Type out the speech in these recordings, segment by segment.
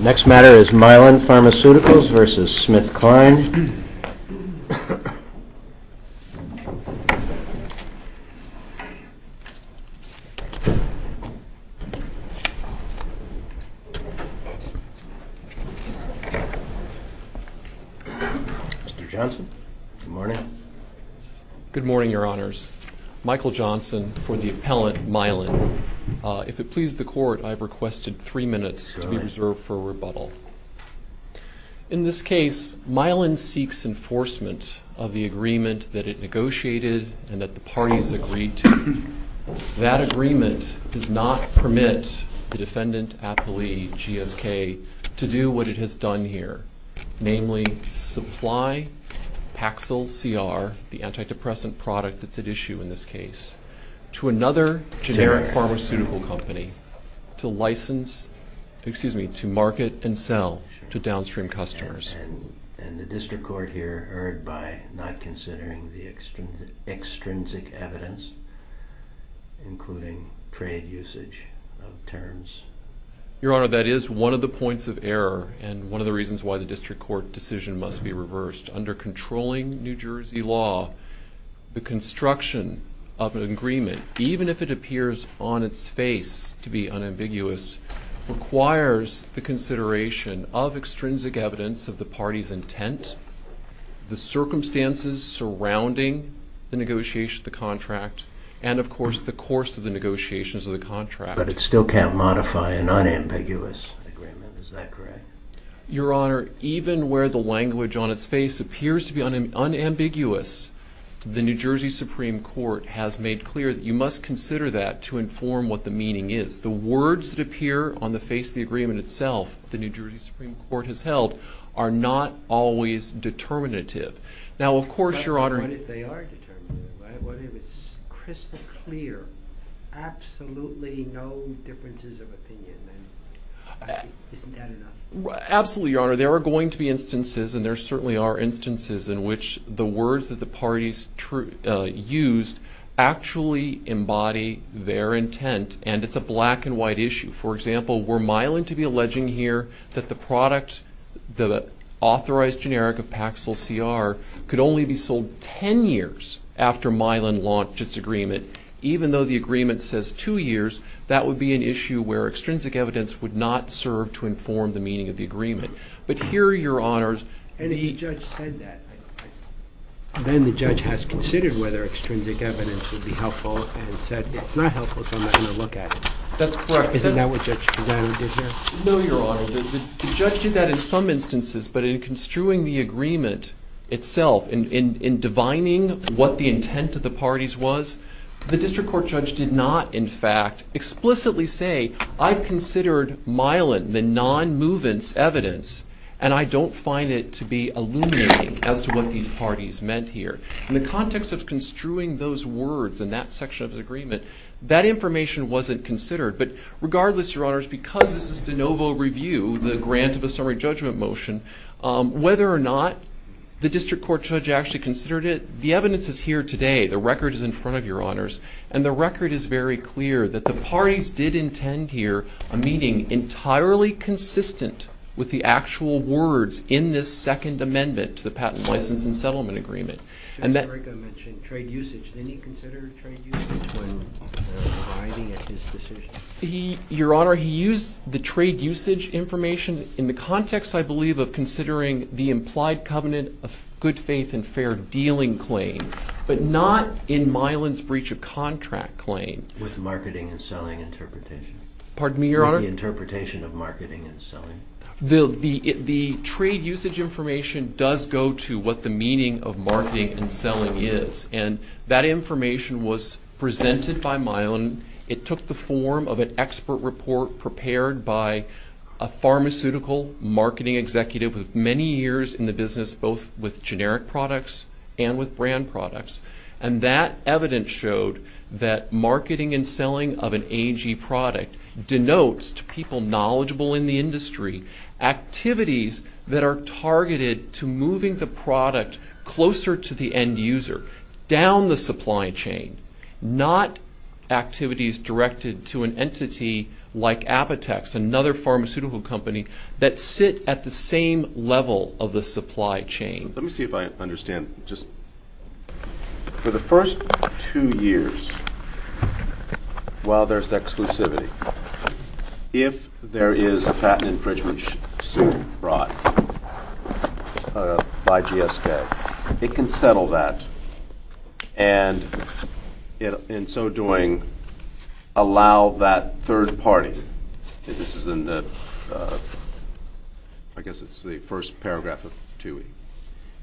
Next matter is Mylan Pharmaceuticals v. Smithkline. Mr. Johnson, good morning. Good morning, your honors. Michael Johnson for the appellant, Mylan. If it pleases the court, I have requested three minutes to be reserved for rebuttal. In this case, Mylan seeks enforcement of the agreement that it negotiated and that the parties agreed to. That agreement does not permit the defendant appellee, GSK, to do what it has done here, namely supply Paxil-CR, the antidepressant product that's at issue in this case, to another generic pharmaceutical company to license, excuse me, to market and sell to downstream customers. And the district court here erred by not considering the extrinsic evidence, including trade usage of terms. Your honor, that is one of the points of error and one of the reasons why the district court decision must be reversed. Under controlling New Jersey law, the construction of an agreement, even if it appears on its face to be unambiguous, requires the consideration of extrinsic evidence of the party's intent, the circumstances surrounding the negotiation of the contract, and of course the course of the negotiations of the contract. But it still can't modify an unambiguous agreement, is that correct? Your honor, even where the language on its face appears to be unambiguous, the New Jersey Supreme Court has made clear that you must consider that to inform what the meaning is. The words that appear on the face of the agreement itself, the New Jersey Supreme Court has held, are not always determinative. Now of course, your honor... But what if they are determinative? What if it's crystal clear, absolutely no differences of opinion? Isn't that enough? Absolutely, your honor. There are going to be instances, and there certainly are instances, in which the words that the parties used actually embody their intent, and it's a black and white issue. For example, were Mylan to be alleging here that the product, the authorized generic of Paxil-CR, could only be sold 10 years after Mylan launched its agreement, even though the agreement says two years, that would be an issue where extrinsic evidence would not serve to inform the meaning of the agreement. But here, your honors... And the judge said that. Then the judge has considered whether extrinsic evidence would be helpful, and said it's not helpful, so I'm not going to look at it. That's correct. Isn't that what Judge Pisano did here? No, your honor. The judge did that in some instances, but in construing the agreement itself, in divining what the intent of the parties was, the district court judge did not, in fact, explicitly say, I've considered Mylan, the non-movance evidence, and I don't find it to be illuminating as to what these parties meant here. In the context of construing those words in that section of the agreement, that information wasn't considered. But regardless, your honors, because this is de novo review, the grant of a summary judgment motion, whether or not the district court judge actually considered it, the evidence is here today. The record is in front of you, your honors. And the record is very clear that the parties did intend here a meeting entirely consistent with the actual words in this Second Amendment to the Patent, License, and Settlement Agreement. Judge Erika mentioned trade usage. Did he consider trade usage when divining at this decision? Your honor, he used the trade usage information in the context, I believe, of considering the implied covenant of good faith and fair dealing claim, but not in Mylan's breach of contract claim. With marketing and selling interpretation. Pardon me, your honor? With the interpretation of marketing and selling. The trade usage information does go to what the meaning of marketing and selling is. And that information was presented by Mylan. It took the form of an expert report prepared by a pharmaceutical marketing executive with many years in the business, both with generic products and with brand products. And that evidence showed that marketing and selling of an AG product denotes to people knowledgeable in the industry activities that are targeted to moving the product closer to the end user, down the supply chain, not activities directed to an entity like Apotex, another pharmaceutical company that sit at the same level of the supply chain. Let me see if I understand. For the first two years, while there's exclusivity, if there is a patent infringement suit brought by GSK, it can settle that. And in so doing, allow that third party, and this is in the first paragraph of TUI,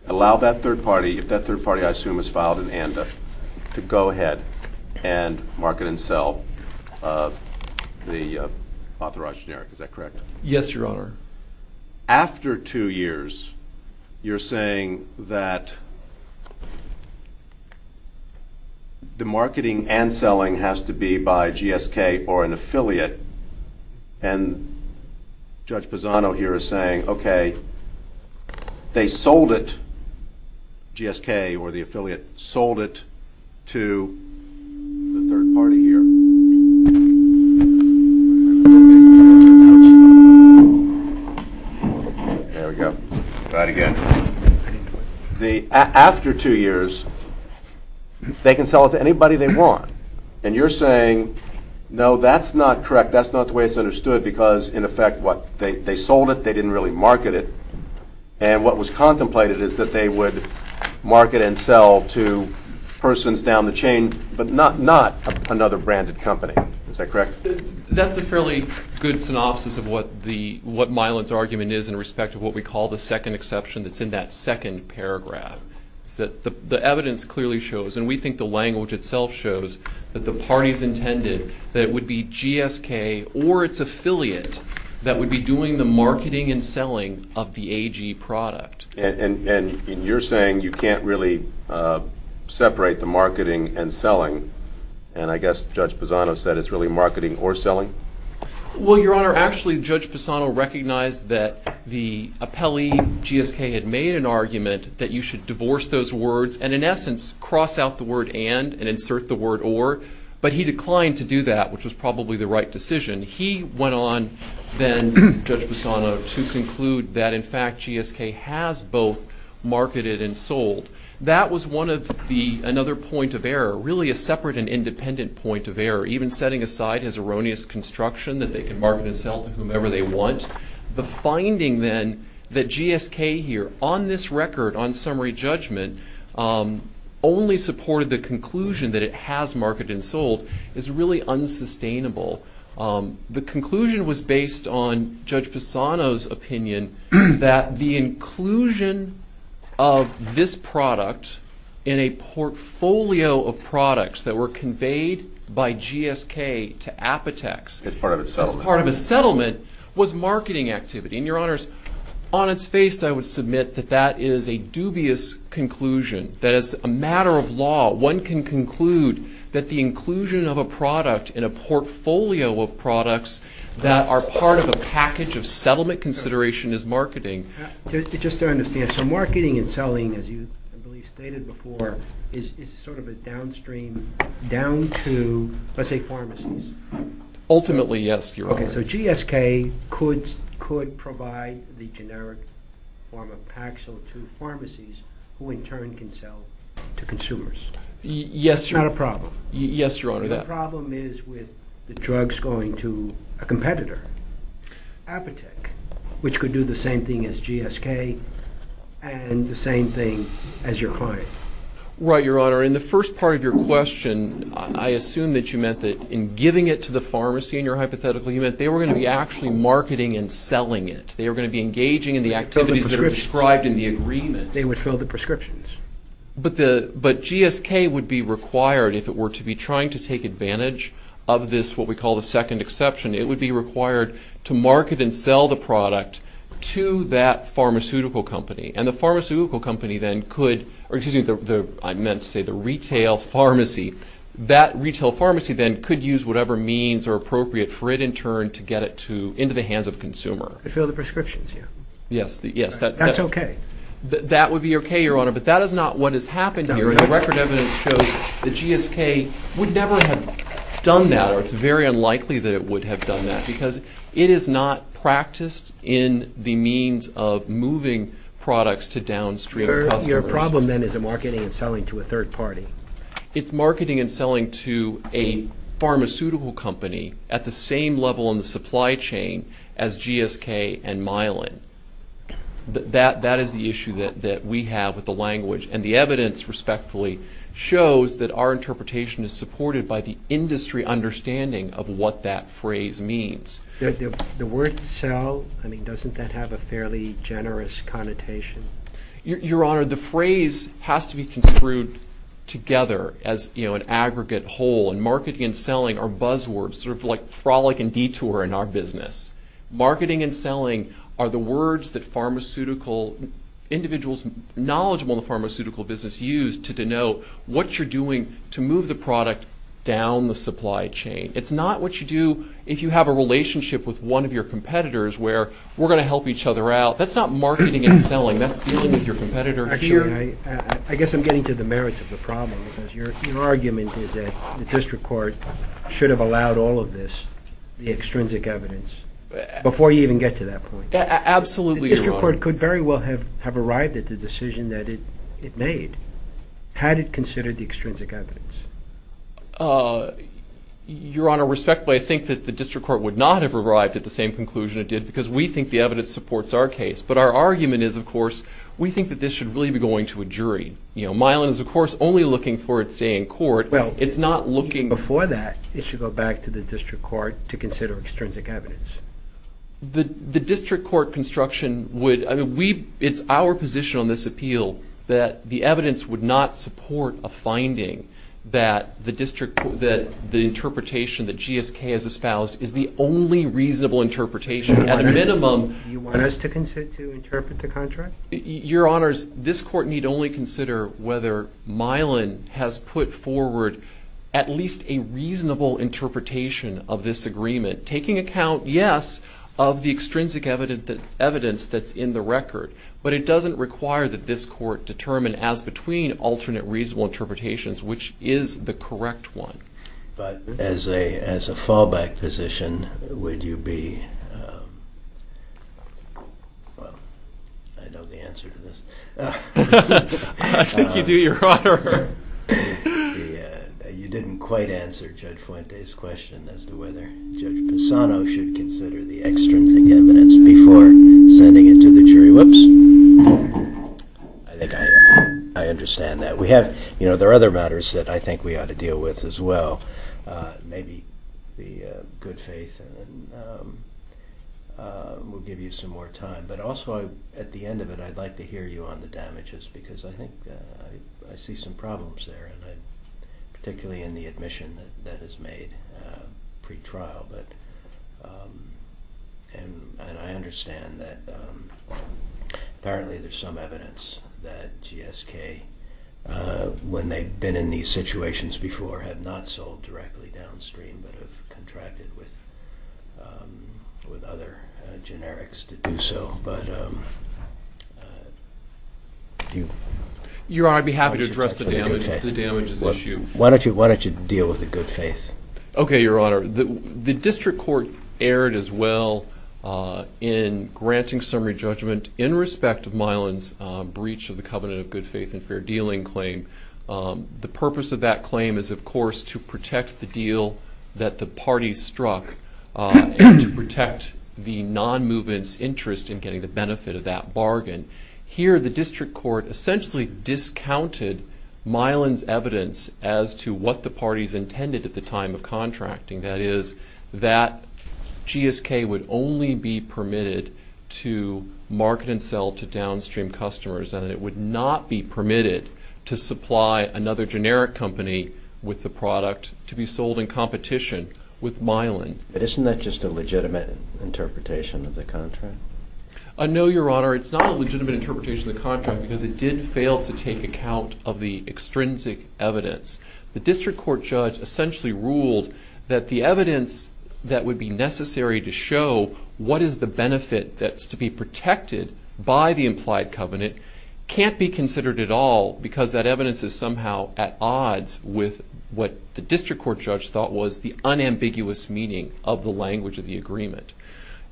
allow that third party, if that third party, I assume, has filed an ANDA, to go ahead and market and sell the authorized generic. Is that correct? Yes, your honor. After two years, you're saying that the marketing and selling has to be by GSK or an affiliate, and Judge Pisano here is saying, okay, they sold it, GSK or the affiliate, sold it to the third party here. There we go. Try it again. After two years, they can sell it to anybody they want. And you're saying, no, that's not correct, that's not the way it's understood, because, in effect, what, they sold it, they didn't really market it, and what was contemplated is that they would market and sell to persons down the chain, but not another branded company. Is that correct? That's a fairly good synopsis of what Mylan's argument is in respect to what we call the second exception that's in that second paragraph. The evidence clearly shows, and we think the language itself shows, that the parties intended that it would be GSK or its affiliate that would be doing the marketing and selling of the AG product. And you're saying you can't really separate the marketing and selling, and I guess Judge Pisano said it's really marketing or selling? Well, Your Honor, actually, Judge Pisano recognized that the appellee, GSK, had made an argument that you should divorce those words and, in essence, cross out the word and and insert the word or, but he declined to do that, which was probably the right decision. He went on then, Judge Pisano, to conclude that, in fact, GSK has both marketed and sold. That was another point of error, really a separate and independent point of error. Even setting aside his erroneous construction that they can market and sell to whomever they want, the finding then that GSK here, on this record, on summary judgment, only supported the conclusion that it has marketed and sold is really unsustainable. The conclusion was based on Judge Pisano's opinion that the inclusion of this product in a portfolio of products that were conveyed by GSK to Apotex as part of a settlement was marketing activity. And, Your Honors, on its face, I would submit that that is a dubious conclusion. That is a matter of law. One can conclude that the inclusion of a product in a portfolio of products that are part of a package of settlement consideration is marketing. Just to understand, so marketing and selling, as you, I believe, stated before, is sort of a downstream, down to, let's say, pharmacies? Ultimately, yes, Your Honor. Okay, so GSK could provide the generic form of Paxil to pharmacies who, in turn, can sell to consumers. Yes, Your Honor. That's not a problem. Yes, Your Honor. The problem is with the drugs going to a competitor, Apotex, which could do the same thing as GSK and the same thing as your client. Right, Your Honor. In the first part of your question, I assume that you meant that in giving it to the pharmacy, in your hypothetical, you meant they were going to be actually marketing and selling it. They were going to be engaging in the activities that are described in the agreement. They would fill the prescriptions. But GSK would be required, if it were to be trying to take advantage of this, what we call the second exception, it would be required to market and sell the product to that pharmaceutical company. And the pharmaceutical company then could, or excuse me, I meant to say the retail pharmacy, that retail pharmacy then could use whatever means are appropriate for it, in turn, to get it into the hands of the consumer. To fill the prescriptions, yes. Yes. That's okay. That would be okay, Your Honor, but that is not what has happened here. The record evidence shows that GSK would never have done that, or it's very unlikely that it would have done that, because it is not practiced in the means of moving products to downstream customers. Your problem then is a marketing and selling to a third party. It's marketing and selling to a pharmaceutical company at the same level in the supply chain as GSK and Mylan. That is the issue that we have with the language. And the evidence, respectfully, shows that our interpretation is supported by the industry understanding of what that phrase means. The word sell, I mean, doesn't that have a fairly generous connotation? Your Honor, the phrase has to be construed together as, you know, an aggregate whole, and marketing and selling are buzzwords, sort of like frolic and detour in our business. Marketing and selling are the words that pharmaceutical individuals knowledgeable in the pharmaceutical business use to denote what you're doing to move the product down the supply chain. It's not what you do if you have a relationship with one of your competitors where we're going to help each other out. That's not marketing and selling. That's dealing with your competitor here. Actually, I guess I'm getting to the merits of the problem, because your argument is that the district court should have allowed all of this, the extrinsic evidence, before you even get to that point. Absolutely, Your Honor. The district court could very well have arrived at the decision that it made had it considered the extrinsic evidence. Your Honor, respectfully, I think that the district court would not have arrived at the same conclusion it did, because we think the evidence supports our case. But our argument is, of course, we think that this should really be going to a jury. You know, Milan is, of course, only looking for its day in court. It's not looking for that. Before that, it should go back to the district court to consider extrinsic evidence. The district court construction would, I mean, it's our position on this appeal that the evidence would not support a finding that the interpretation that GSK has espoused is the only reasonable interpretation. At a minimum. Do you want us to interpret the contract? Your Honors, this court need only consider whether Milan has put forward at least a reasonable interpretation of this agreement. Taking account, yes, of the extrinsic evidence that's in the record. But it doesn't require that this court determine as between alternate reasonable interpretations, which is the correct one. But as a fallback position, would you be, well, I know the answer to this. I think you do, Your Honor. You didn't quite answer Judge Fuente's question as to whether Judge Pisano should consider the extrinsic evidence before sending it to the jury. Whoops. I think I understand that. We have, you know, there are other matters that I think we ought to deal with as well. Maybe the good faith will give you some more time. But also, at the end of it, I'd like to hear you on the damages because I think I see some problems there, particularly in the admission that is made pre-trial. And I understand that apparently there's some evidence that GSK, when they've been in these situations before, have not sold directly downstream but have contracted with other generics to do so. But do you? Your Honor, I'd be happy to address the damages issue. Why don't you deal with the good faith? Okay, Your Honor. The district court erred as well in granting summary judgment in respect of Milan's breach of the covenant of good faith and fair dealing claim. The purpose of that claim is, of course, to protect the deal that the parties struck and to protect the non-movement's interest in getting the benefit of that bargain. Here, the district court essentially discounted Milan's evidence as to what the parties intended at the time of contracting. That is, that GSK would only be permitted to market and sell to downstream customers and it would not be permitted to supply another generic company with the product to be sold in competition with Milan. But isn't that just a legitimate interpretation of the contract? No, Your Honor. It's not a legitimate interpretation of the contract because it did fail to take account of the extrinsic evidence. The district court judge essentially ruled that the evidence that would be necessary to show what is the benefit that's to be protected by the implied covenant can't be considered at all because that evidence is somehow at odds with what the district court judge thought was the unambiguous meaning of the language of the agreement.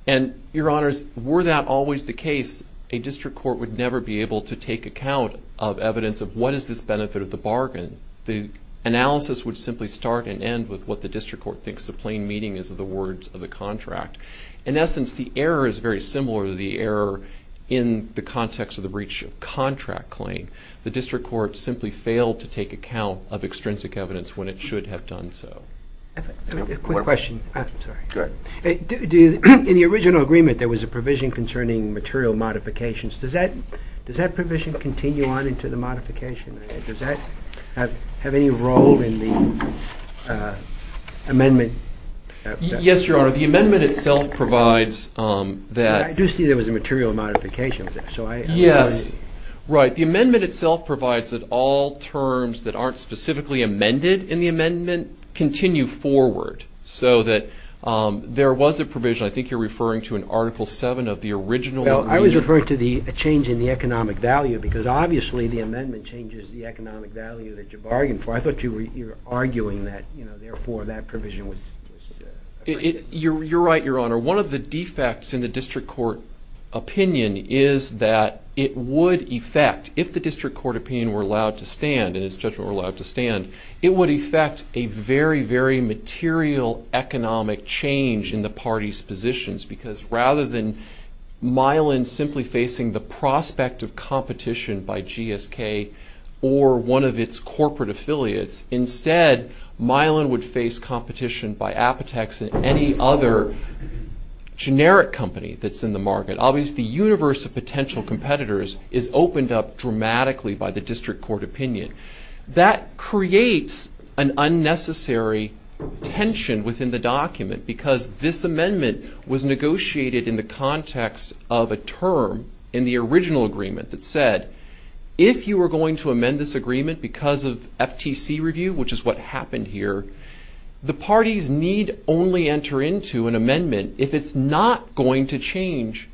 And, Your Honors, were that always the case, a district court would never be able to take account of evidence of what is this benefit of the bargain. The analysis would simply start and end with what the district court thinks the plain meaning is of the words of the contract. In essence, the error is very similar to the error in the context of the breach of contract claim. The district court simply failed to take account of extrinsic evidence when it should have done so. A quick question. In the original agreement, there was a provision concerning material modifications. Does that provision continue on into the modification? Does that have any role in the amendment? Yes, Your Honor. The amendment itself provides that. I do see there was a material modification. Yes. Right, the amendment itself provides that all terms that aren't specifically amended in the amendment continue forward so that there was a provision. I think you're referring to an Article 7 of the original agreement. Well, I was referring to the change in the economic value because obviously the amendment changes the economic value that you bargain for. I thought you were arguing that, you know, therefore that provision was. You're right, Your Honor. One of the defects in the district court opinion is that it would effect, if the district court opinion were allowed to stand and its judgment were allowed to stand, it would effect a very, very material economic change in the party's positions because rather than Milan simply facing the prospect of competition by GSK or one of its corporate affiliates, instead Milan would face competition by Apotex and any other generic company that's in the market. Obviously the universe of potential competitors is opened up dramatically by the district court opinion. That creates an unnecessary tension within the document because this amendment was negotiated in the context of a term in the original agreement that said, if you were going to amend this agreement because of FTC review, which is what happened here, the parties need only enter into an amendment if it's not going to change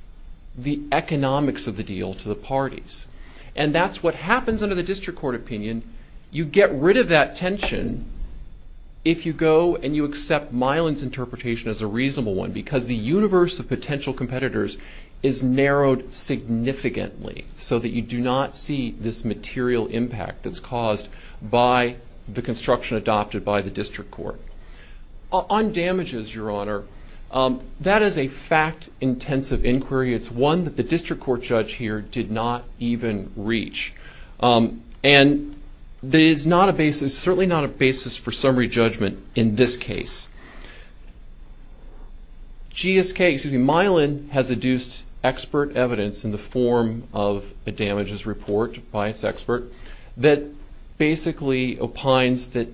the economics of the deal to the parties. And that's what happens under the district court opinion. You get rid of that tension if you go and you accept Milan's interpretation as a reasonable one because the universe of potential competitors is narrowed significantly so that you do not see this material impact that's caused by the construction adopted by the district court. On damages, Your Honor, that is a fact-intensive inquiry. It's one that the district court judge here did not even reach. And it's certainly not a basis for summary judgment in this case. Milan has adduced expert evidence in the form of a damages report by its expert that basically opines that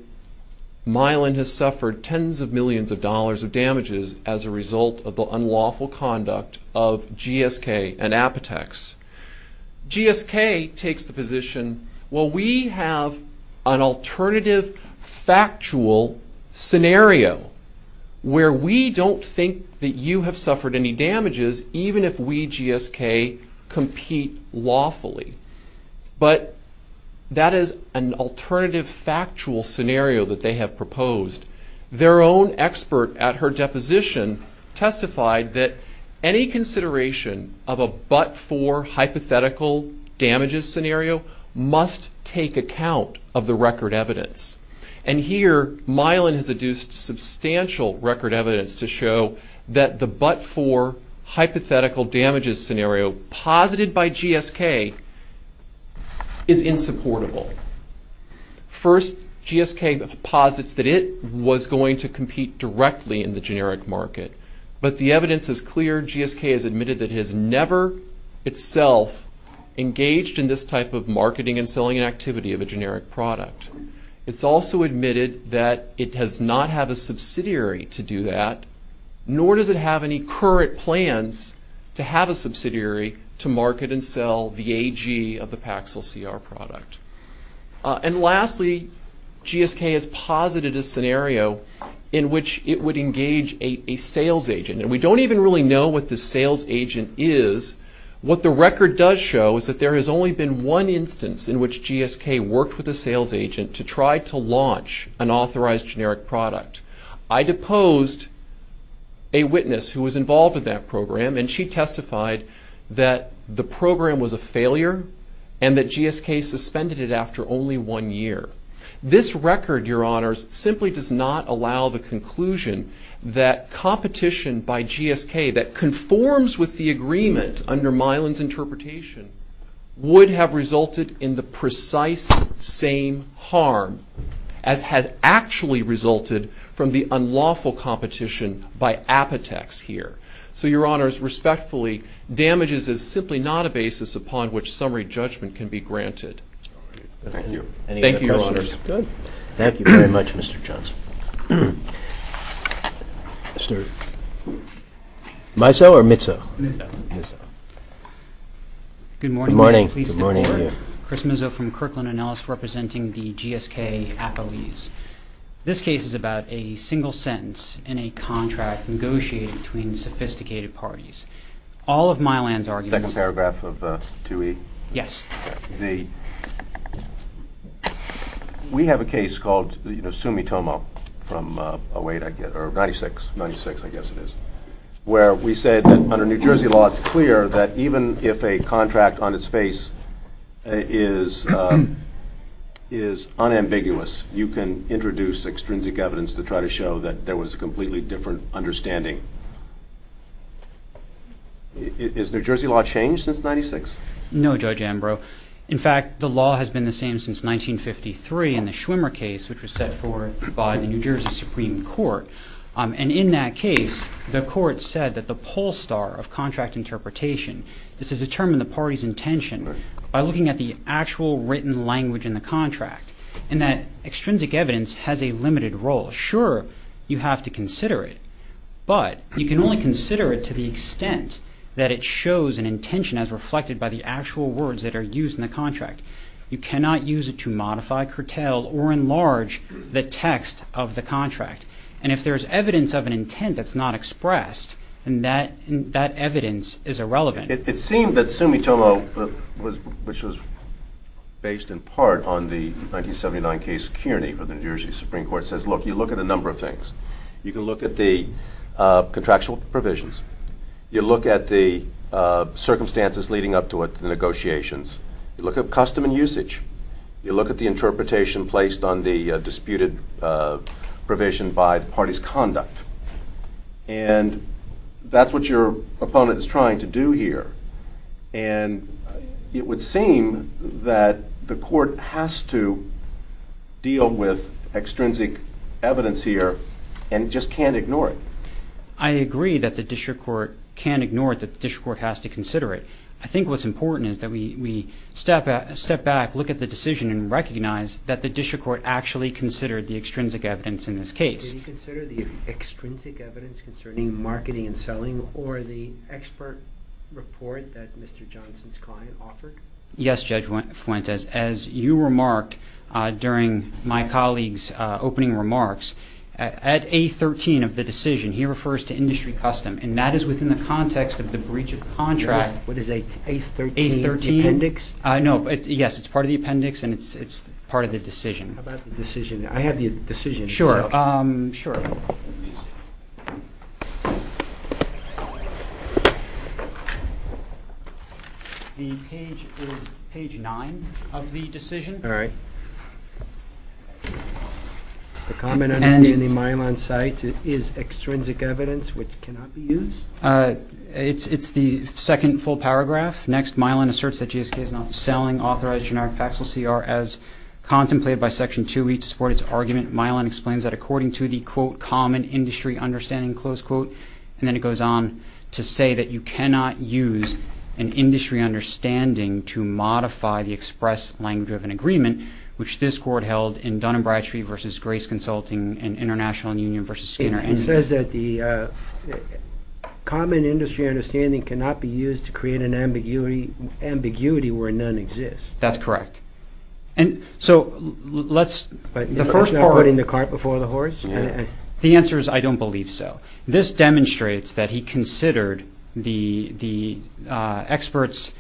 Milan has suffered tens of millions of dollars of damages as a result of the unlawful conduct of GSK and Apotex. GSK takes the position, well, we have an alternative factual scenario where we don't think that you have suffered any damages even if we, GSK, compete lawfully. But that is an alternative factual scenario that they have proposed. Their own expert at her deposition testified that any consideration of a but-for hypothetical damages scenario must take account of the record evidence. And here, Milan has adduced substantial record evidence to show that the but-for hypothetical damages scenario posited by GSK is insupportable. First, GSK posits that it was going to compete directly in the generic market. But the evidence is clear. GSK has admitted that it has never itself engaged in this type of marketing and selling activity of a generic product. It's also admitted that it does not have a subsidiary to do that, nor does it have any current plans to have a subsidiary to market and sell the AG of the Paxil-CR product. And lastly, GSK has posited a scenario in which it would engage a sales agent. And we don't even really know what the sales agent is. What the record does show is that there has only been one instance in which GSK worked with a sales agent to try to launch an authorized generic product. I deposed a witness who was involved in that program, and she testified that the program was a failure and that GSK suspended it after only one year. This record, Your Honors, simply does not allow the conclusion that competition by GSK that conforms with the agreement under Milan's interpretation would have resulted in the precise same harm as has actually resulted from the unlawful competition by Apotex here. So, Your Honors, respectfully, damages is simply not a basis upon which summary judgment can be granted. Thank you, Your Honors. Thank you very much, Mr. Johnson. Mr. Mizzo or Mizzo? Mizzo. Good morning. Good morning. Chris Mizzo from Kirkland & Ellis representing the GSK accolades. This case is about a single sentence in a contract negotiated between sophisticated parties. All of Milan's arguments... Second paragraph of 2E. Yes. We have a case called Sumitomo from 08, I guess, or 96, 96, I guess it is, where we said that under New Jersey law, it's clear that even if a contract on its face is unambiguous, you can introduce extrinsic evidence to try to show that there was a completely different understanding. Has New Jersey law changed since 96? No, Judge Ambrose. In fact, the law has been the same since 1953 in the Schwimmer case, which was set forth by the New Jersey Supreme Court. And in that case, the court said that the pole star of contract interpretation is to determine the party's intention by looking at the actual written language in the contract and that extrinsic evidence has a limited role. Sure, you have to consider it, but you can only consider it to the extent that it shows an intention as reflected by the actual words that are used in the contract. You cannot use it to modify, curtail, or enlarge the text of the contract. And if there's evidence of an intent that's not expressed, then that evidence is irrelevant. It seemed that Sumitomo, which was based in part on the 1979 case of Kearney for the New Jersey Supreme Court, says, look, you look at a number of things. You can look at the contractual provisions. You look at the circumstances leading up to the negotiations. You look at custom and usage. You look at the interpretation placed on the disputed provision by the party's conduct. And that's what your opponent is trying to do here. And it would seem that the court has to deal with extrinsic evidence here and just can't ignore it. I agree that the district court can't ignore it, that the district court has to consider it. I think what's important is that we step back, look at the decision, and recognize that the district court actually considered the extrinsic evidence in this case. Do you consider the extrinsic evidence concerning marketing and selling or the expert report that Mr. Johnson's client offered? Yes, Judge Fuentes. As you remarked during my colleague's opening remarks, at A13 of the decision, he refers to industry custom, and that is within the context of the breach of contract. What is A13, appendix? No, yes, it's part of the appendix and it's part of the decision. How about the decision? I have the decision. Sure, sure. The page is page nine of the decision. All right. The comment on the Mylan site is extrinsic evidence which cannot be used? It's the second full paragraph. Next, Mylan asserts that GSK is not selling authorized generic Paxil CR as contemplated by Section 2E to support its argument. Mylan explains that according to the, quote, common industry understanding, close quote, and then it goes on to say that you cannot use an industry understanding to modify the express language of an agreement, which this court held in Dun & Bradstreet v. Grace Consulting and International Union v. Skinner. It says that the common industry understanding cannot be used to create an ambiguity where none exists. That's correct. And so let's, the first part. But it's not putting the cart before the horse? The answer is I don't believe so. This demonstrates that he considered the experts'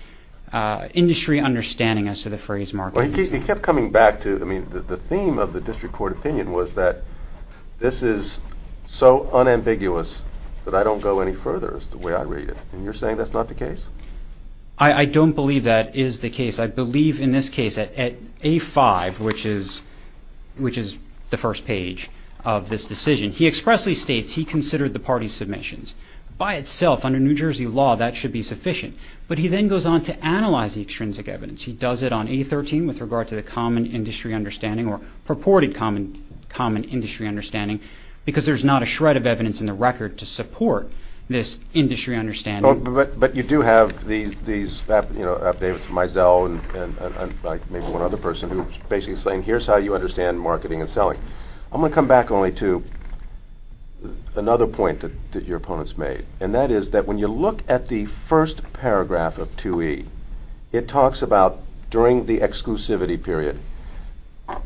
industry understanding as to the phrase market. He kept coming back to, I mean, the theme of the district court opinion was that this is so unambiguous that I don't go any further is the way I read it, and you're saying that's not the case? I don't believe that is the case. I believe in this case at A5, which is the first page of this decision, he expressly states he considered the party's submissions. By itself, under New Jersey law, that should be sufficient. But he then goes on to analyze the extrinsic evidence. He does it on A13 with regard to the common industry understanding or purported common industry understanding because there's not a shred of evidence in the record to support this industry understanding. But you do have these, you know, updates from Mizell and maybe one other person who's basically saying, here's how you understand marketing and selling. I'm going to come back only to another point that your opponents made, and that is that when you look at the first paragraph of 2E, it talks about during the exclusivity period,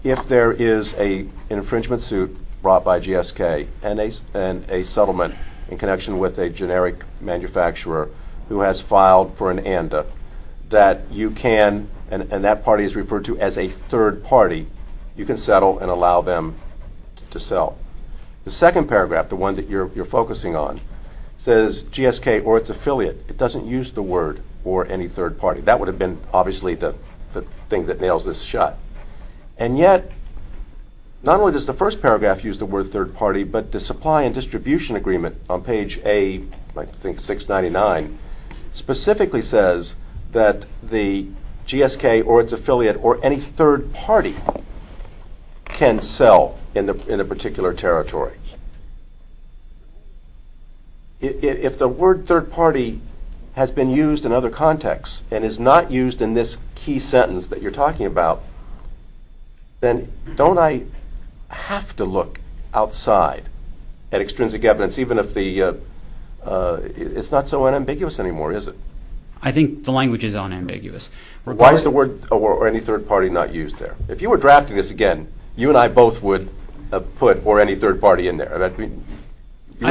if there is an infringement suit brought by GSK and a settlement in connection with a generic manufacturer who has filed for an ANDA that you can, and that party is referred to as a third party, you can settle and allow them to sell. The second paragraph, the one that you're focusing on, says GSK or its affiliate. It doesn't use the word or any third party. That would have been obviously the thing that nails this shut. And yet, not only does the first paragraph use the word third party, but the supply and distribution agreement on page A, I think 699, specifically says that the GSK or its affiliate or any third party can sell in a particular territory. If the word third party has been used in other contexts and is not used in this key sentence that you're talking about, then don't I have to look outside at extrinsic evidence, even if the, it's not so unambiguous anymore, is it? I think the language is unambiguous. Why is the word or any third party not used there? If you were drafting this again, you and I both would have put or any third party in there. You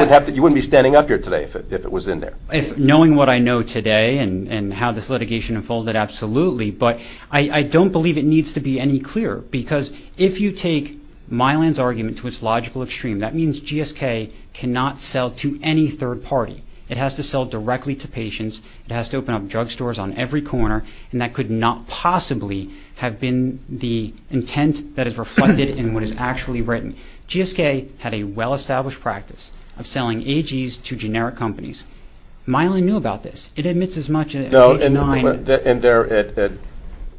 wouldn't be standing up here today if it was in there. Knowing what I know today and how this litigation unfolded, absolutely. But I don't believe it needs to be any clearer because if you take Mylan's argument to its logical extreme, that means GSK cannot sell to any third party. It has to sell directly to patients. It has to open up drugstores on every corner, and that could not possibly have been the intent that is reflected in what is actually written. GSK had a well-established practice of selling AGs to generic companies. Mylan knew about this. It admits as much as page 9. And there,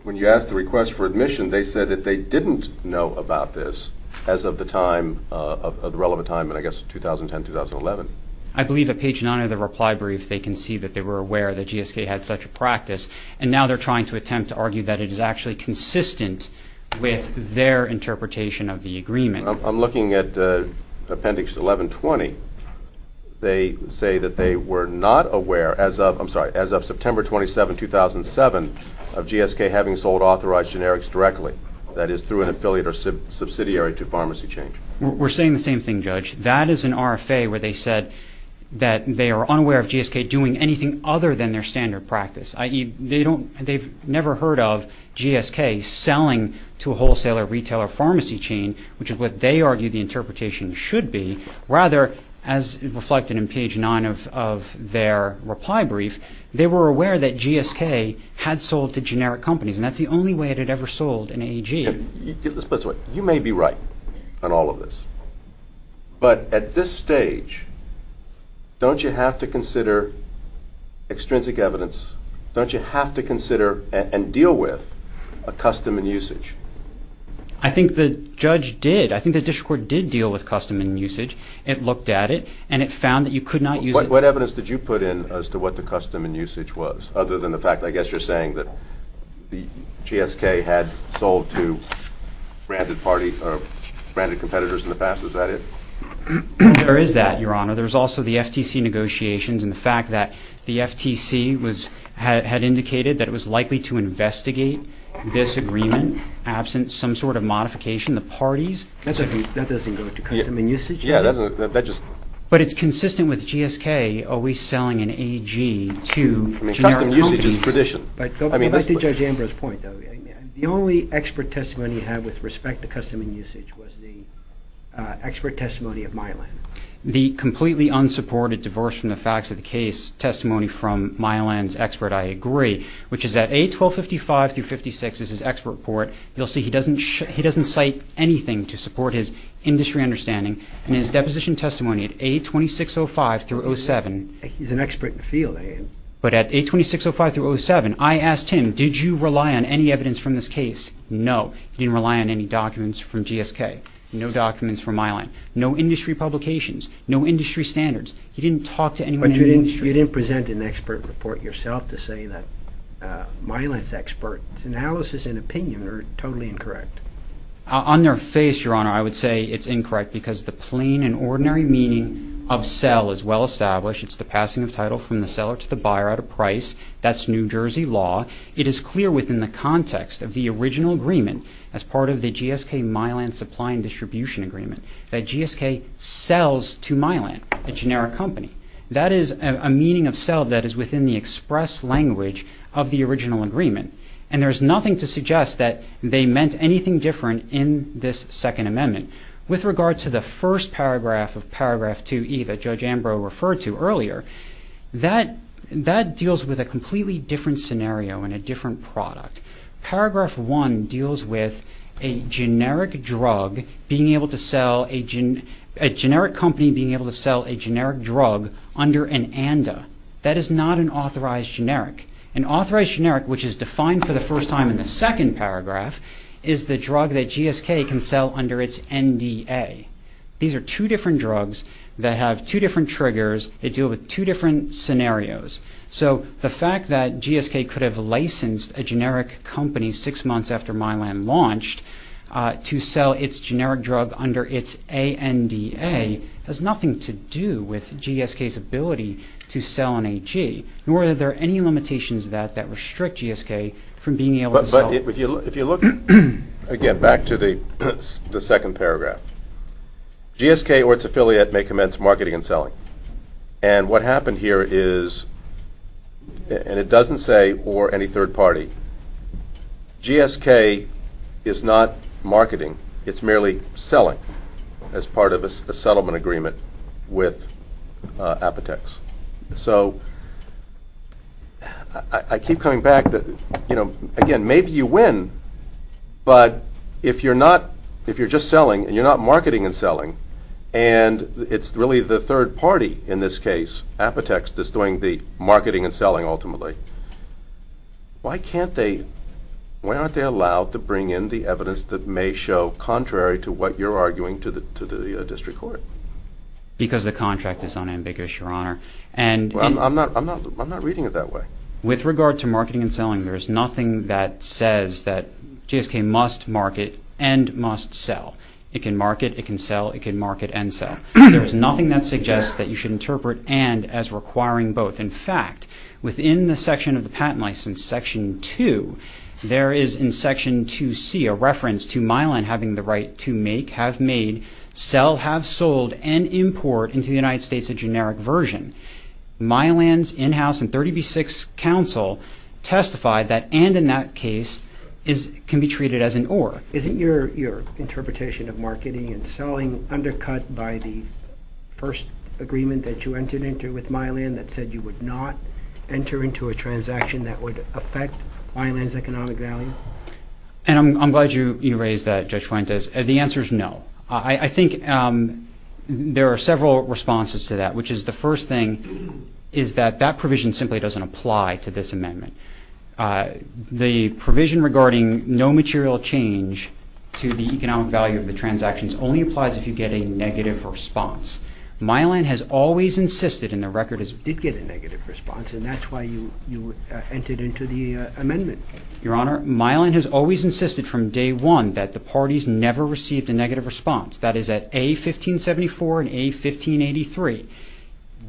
when you asked the request for admission, they said that they didn't know about this as of the time, of the relevant time, and I guess 2010, 2011. I believe at page 9 of the reply brief they can see that they were aware that GSK had such a practice, and now they're trying to attempt to argue that it is actually consistent with their interpretation of the agreement. I'm looking at appendix 1120. They say that they were not aware as of September 27, 2007, of GSK having sold authorized generics directly, that is, through an affiliate or subsidiary to pharmacy change. We're saying the same thing, Judge. That is an RFA where they said that they are unaware of GSK doing anything other than their standard practice, i.e., they've never heard of GSK selling to a wholesaler, retail, or pharmacy chain, which is what they argue the interpretation should be. Rather, as reflected in page 9 of their reply brief, they were aware that GSK had sold to generic companies, and that's the only way it had ever sold an AG. You may be right on all of this, but at this stage, don't you have to consider extrinsic evidence? Don't you have to consider and deal with a custom and usage? I think the judge did. I think the district court did deal with custom and usage. It looked at it, and it found that you could not use it. What evidence did you put in as to what the custom and usage was, other than the fact, I guess, you're saying that GSK had sold to branded competitors in the past? Is that it? There is that, Your Honor. There's also the FTC negotiations and the fact that the FTC had indicated that it was likely to investigate this agreement absent some sort of modification. The parties? That doesn't go to custom and usage? Yeah. But it's consistent with GSK always selling an AG to generic companies. Custom and usage is tradition. Go back to Judge Ambrose's point, though. The only expert testimony he had with respect to custom and usage was the expert testimony of Mylan. The completely unsupported divorce from the facts of the case testimony from Mylan's expert, I agree, which is that A1255 through 56 is his expert report. You'll see he doesn't cite anything to support his industry understanding. In his deposition testimony at A2605 through 07. He's an expert in the field. But at A2605 through 07, I asked him, did you rely on any evidence from this case? No. He didn't rely on any documents from GSK, no documents from Mylan, no industry publications, no industry standards. He didn't talk to anyone in the industry. But you didn't present an expert report yourself to say that Mylan's expert analysis and opinion are totally incorrect. On their face, Your Honor, I would say it's incorrect because the plain and ordinary meaning of sell is well established. It's the passing of title from the seller to the buyer at a price. That's New Jersey law. It is clear within the context of the original agreement as part of the GSK-Mylan Supply and Distribution Agreement that GSK sells to Mylan, a generic company. That is a meaning of sell that is within the express language of the original agreement. And there's nothing to suggest that they meant anything different in this Second Amendment. With regard to the first paragraph of Paragraph 2E that Judge Ambrose referred to earlier, that deals with a completely different scenario and a different product. Paragraph 1 deals with a generic company being able to sell a generic drug under an ANDA. That is not an authorized generic. An authorized generic, which is defined for the first time in the second paragraph, is the drug that GSK can sell under its NDA. These are two different drugs that have two different triggers. They deal with two different scenarios. So the fact that GSK could have licensed a generic company six months after Mylan launched to sell its generic drug under its ANDA has nothing to do with GSK's ability to sell an AG, nor are there any limitations that restrict GSK from being able to sell. But if you look again back to the second paragraph, GSK or its affiliate may commence marketing and selling. And what happened here is, and it doesn't say or any third party, GSK is not marketing. It's merely selling as part of a settlement agreement with Apotex. So I keep coming back, you know, again, maybe you win, but if you're just selling and you're not marketing and selling, and it's really the third party in this case, Apotex, that's doing the marketing and selling ultimately, why aren't they allowed to bring in the evidence that may show contrary to what you're arguing to the district court? Because the contract is unambiguous, Your Honor. I'm not reading it that way. With regard to marketing and selling, there is nothing that says that GSK must market and must sell. It can market, it can sell, it can market and sell. There is nothing that suggests that you should interpret and as requiring both. In fact, within the section of the patent license, Section 2, there is in Section 2C a reference to Mylan having the right to make, have made, sell, have sold, and import into the United States a generic version. Mylan's in-house and 30B6 counsel testified that and in that case can be treated as an or. Isn't your interpretation of marketing and selling undercut by the first agreement that you entered into with Mylan that said you would not enter into a transaction that would affect Mylan's economic value? And I'm glad you raised that, Judge Fuentes. The answer is no. I think there are several responses to that, which is the first thing is that that provision simply doesn't apply to this amendment. The provision regarding no material change to the economic value of the transactions only applies if you get a negative response. Mylan has always insisted, and the record is you did get a negative response, and that's why you entered into the amendment. Your Honor, Mylan has always insisted from day one that the parties never received a negative response. That is at A1574 and A1583.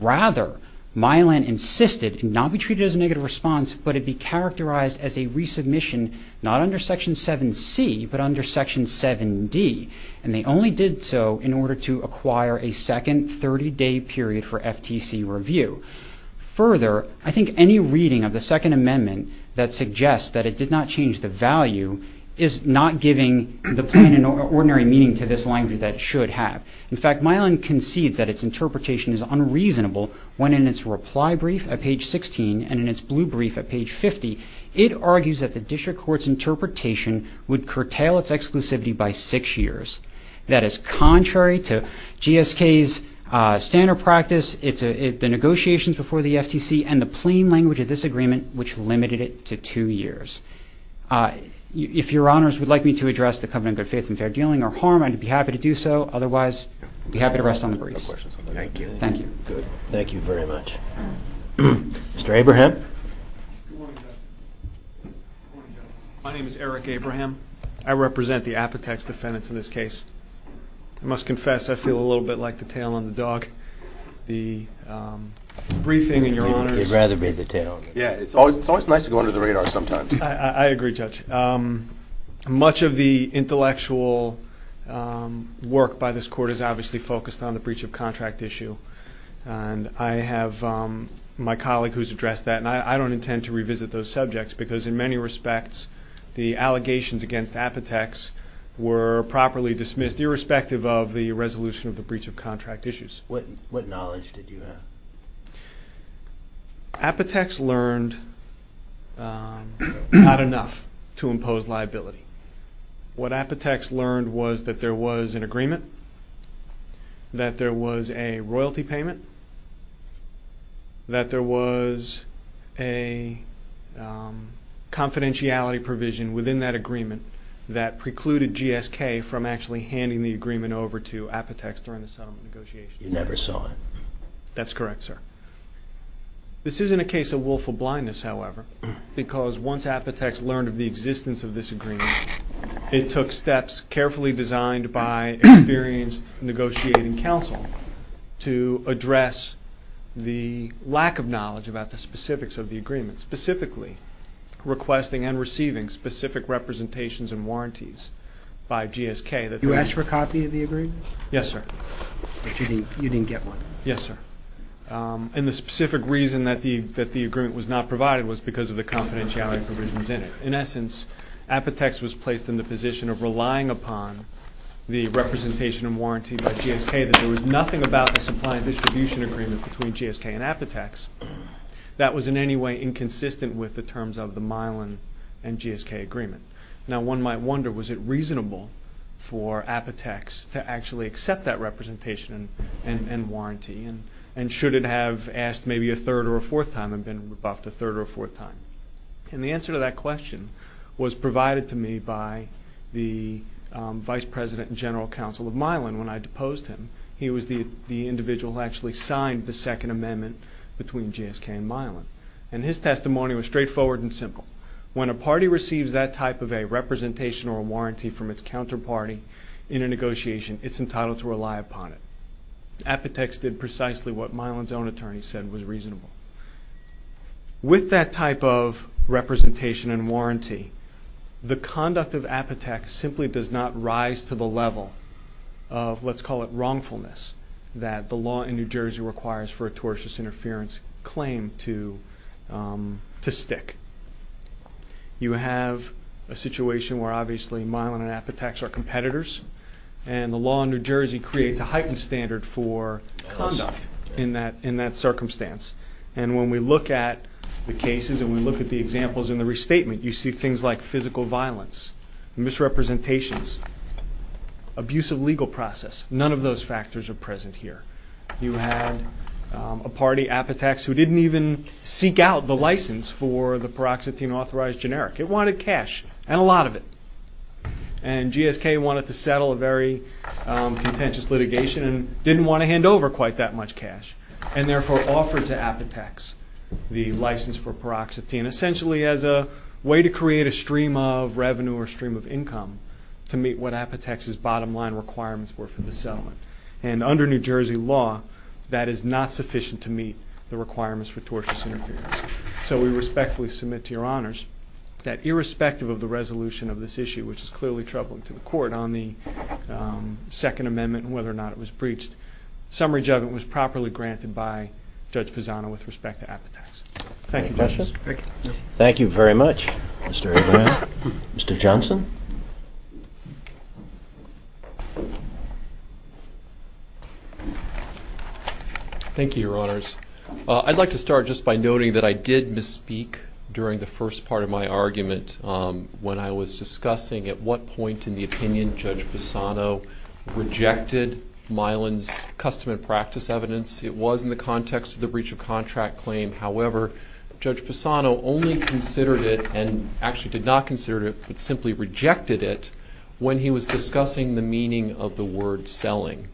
Rather, Mylan insisted it not be treated as a negative response, but it be characterized as a resubmission not under Section 7C, but under Section 7D. And they only did so in order to acquire a second 30-day period for FTC review. Further, I think any reading of the Second Amendment that suggests that it did not change the value is not giving the plain and ordinary meaning to this language that it should have. In fact, Mylan concedes that its interpretation is unreasonable when in its reply brief at page 16 and in its blue brief at page 50, it argues that the district court's interpretation would curtail its exclusivity by six years. That is contrary to GSK's standard practice, the negotiations before the FTC, and the plain language of this agreement, which limited it to two years. If Your Honors would like me to address the covenant of good faith and fair dealing or harm, I'd be happy to do so. Otherwise, I'd be happy to rest on the briefs. Thank you. Thank you. Good. Thank you very much. Mr. Abraham. Good morning, Judge. Good morning, Judge. My name is Eric Abraham. I represent the Apotex defendants in this case. I must confess I feel a little bit like the tail on the dog. The briefing and Your Honors. You'd rather be the tail on the dog. Yeah, it's always nice to go under the radar sometimes. I agree, Judge. Much of the intellectual work by this court is obviously focused on the breach of contract issue. I have my colleague who's addressed that, and I don't intend to revisit those subjects because in many respects the allegations against Apotex were properly dismissed, irrespective of the resolution of the breach of contract issues. What knowledge did you have? Apotex learned not enough to impose liability. What Apotex learned was that there was an agreement, that there was a royalty payment, that there was a confidentiality provision within that agreement that precluded GSK from actually handing the agreement over to Apotex during the settlement negotiations. You never saw it. That's correct, sir. This isn't a case of willful blindness, however, because once Apotex learned of the existence of this agreement, it took steps carefully designed by experienced negotiating counsel to address the lack of knowledge about the specifics of the agreement, specifically requesting and receiving specific representations and warranties by GSK. You asked for a copy of the agreement? Yes, sir. You didn't get one. Yes, sir. And the specific reason that the agreement was not provided was because of the confidentiality provisions in it. In essence, Apotex was placed in the position of relying upon the representation and warranty by GSK, that there was nothing about the supply and distribution agreement between GSK and Apotex that was in any way inconsistent with the terms of the Milan and GSK agreement. Now, one might wonder, was it reasonable for Apotex to actually accept that representation and warranty, and should it have asked maybe a third or a fourth time and been buffed a third or a fourth time? And the answer to that question was provided to me by the vice president and general counsel of Milan when I deposed him. He was the individual who actually signed the second amendment between GSK and Milan, and his testimony was straightforward and simple. When a party receives that type of a representation or a warranty from its counterparty in a negotiation, it's entitled to rely upon it. Apotex did precisely what Milan's own attorney said was reasonable. With that type of representation and warranty, the conduct of Apotex simply does not rise to the level of, let's call it wrongfulness, that the law in New Jersey requires for a tortious interference claim to stick. You have a situation where obviously Milan and Apotex are competitors, and the law in New Jersey creates a heightened standard for conduct in that circumstance. And when we look at the cases and we look at the examples in the restatement, you see things like physical violence, misrepresentations, abusive legal process. None of those factors are present here. You have a party, Apotex, who didn't even seek out the license for the paroxetine-authorized generic. It wanted cash, and a lot of it. And GSK wanted to settle a very contentious litigation and didn't want to hand over quite that much cash, and therefore offered to Apotex the license for paroxetine, essentially as a way to create a stream of revenue or stream of income to meet what Apotex's bottom line requirements were for the settlement. And under New Jersey law, that is not sufficient to meet the requirements for tortious interference. So we respectfully submit to Your Honors that irrespective of the resolution of this issue, which is clearly troubling to the Court on the Second Amendment and whether or not it was breached, summary judgment was properly granted by Judge Pisano with respect to Apotex. Thank you, Justice. Thank you very much, Mr. O'Brien. Mr. Johnson? Thank you, Your Honors. I'd like to start just by noting that I did misspeak during the first part of my argument when I was discussing at what point in the opinion Judge Pisano rejected Milan's custom and practice evidence. It was in the context of the breach of contract claim. However, Judge Pisano only considered it, and actually did not consider it, but simply rejected it when he was discussing the meaning of the word selling.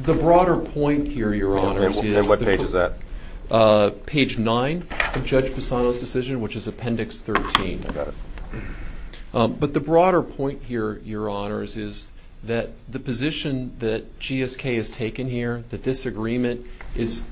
The broader point here, Your Honors, is that page 9 of Judge Pisano's decision, which is Appendix 13. But the broader point here, Your Honors, is that the position that GSK has taken here, that this agreement is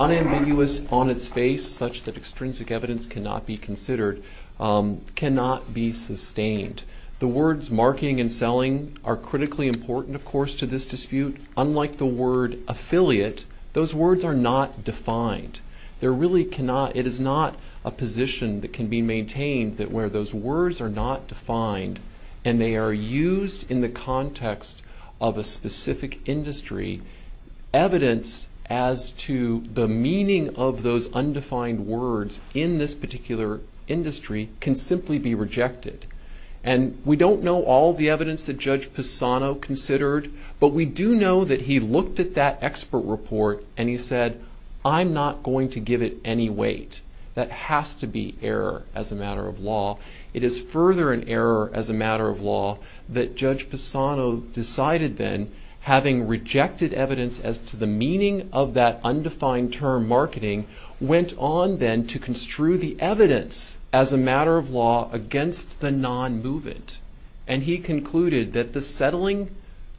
unambiguous on its face such that extrinsic evidence cannot be considered, cannot be sustained. The words marketing and selling are critically important, of course, to this dispute. Unlike the word affiliate, those words are not defined. It is not a position that can be maintained where those words are not defined, and they are used in the context of a specific industry. Evidence as to the meaning of those undefined words in this particular industry can simply be rejected. And we don't know all the evidence that Judge Pisano considered, but we do know that he looked at that expert report and he said, I'm not going to give it any weight. That has to be error as a matter of law. It is further an error as a matter of law that Judge Pisano decided then, having rejected evidence as to the meaning of that undefined term marketing, went on then to construe the evidence as a matter of law against the non-movement. And he concluded that the settling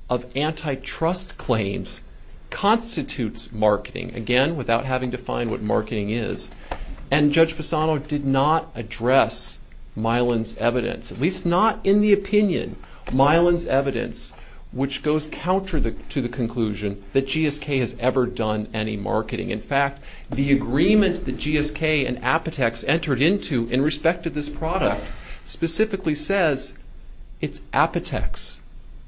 of antitrust claims constitutes marketing, again, without having to find what marketing is. And Judge Pisano did not address Milan's evidence, at least not in the opinion. Milan's evidence, which goes counter to the conclusion that GSK has ever done any marketing. In fact, the agreement that GSK and Apotex entered into in respect to this product specifically says it's Apotex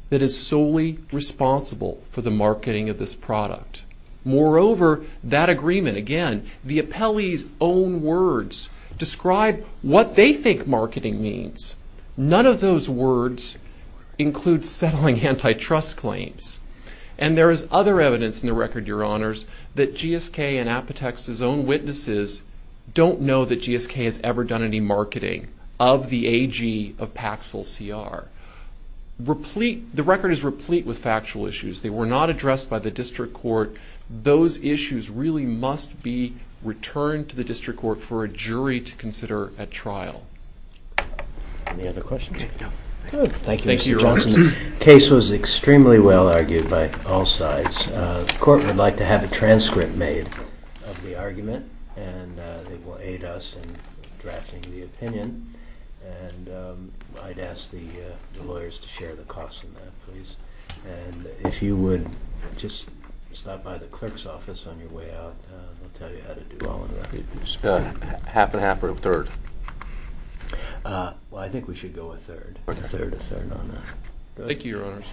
that is solely responsible for the marketing of this product. Moreover, that agreement, again, the appellee's own words describe what they think marketing means. None of those words include settling antitrust claims. And there is other evidence in the record, Your Honors, that GSK and Apotex's own witnesses don't know that GSK has ever done any marketing of the AG of Paxil CR. The record is replete with factual issues. They were not addressed by the district court. Those issues really must be returned to the district court for a jury to consider at trial. Any other questions? Thank you, Mr. Johnson. The case was extremely well argued by all sides. The court would like to have a transcript made of the argument, and it will aid us in drafting the opinion. And I'd ask the lawyers to share the cost of that, please. And if you would just stop by the clerk's office on your way out, we'll tell you how to do all of that. Half and half or a third? Well, I think we should go a third. A third, a third on that. Thank you, Your Honors.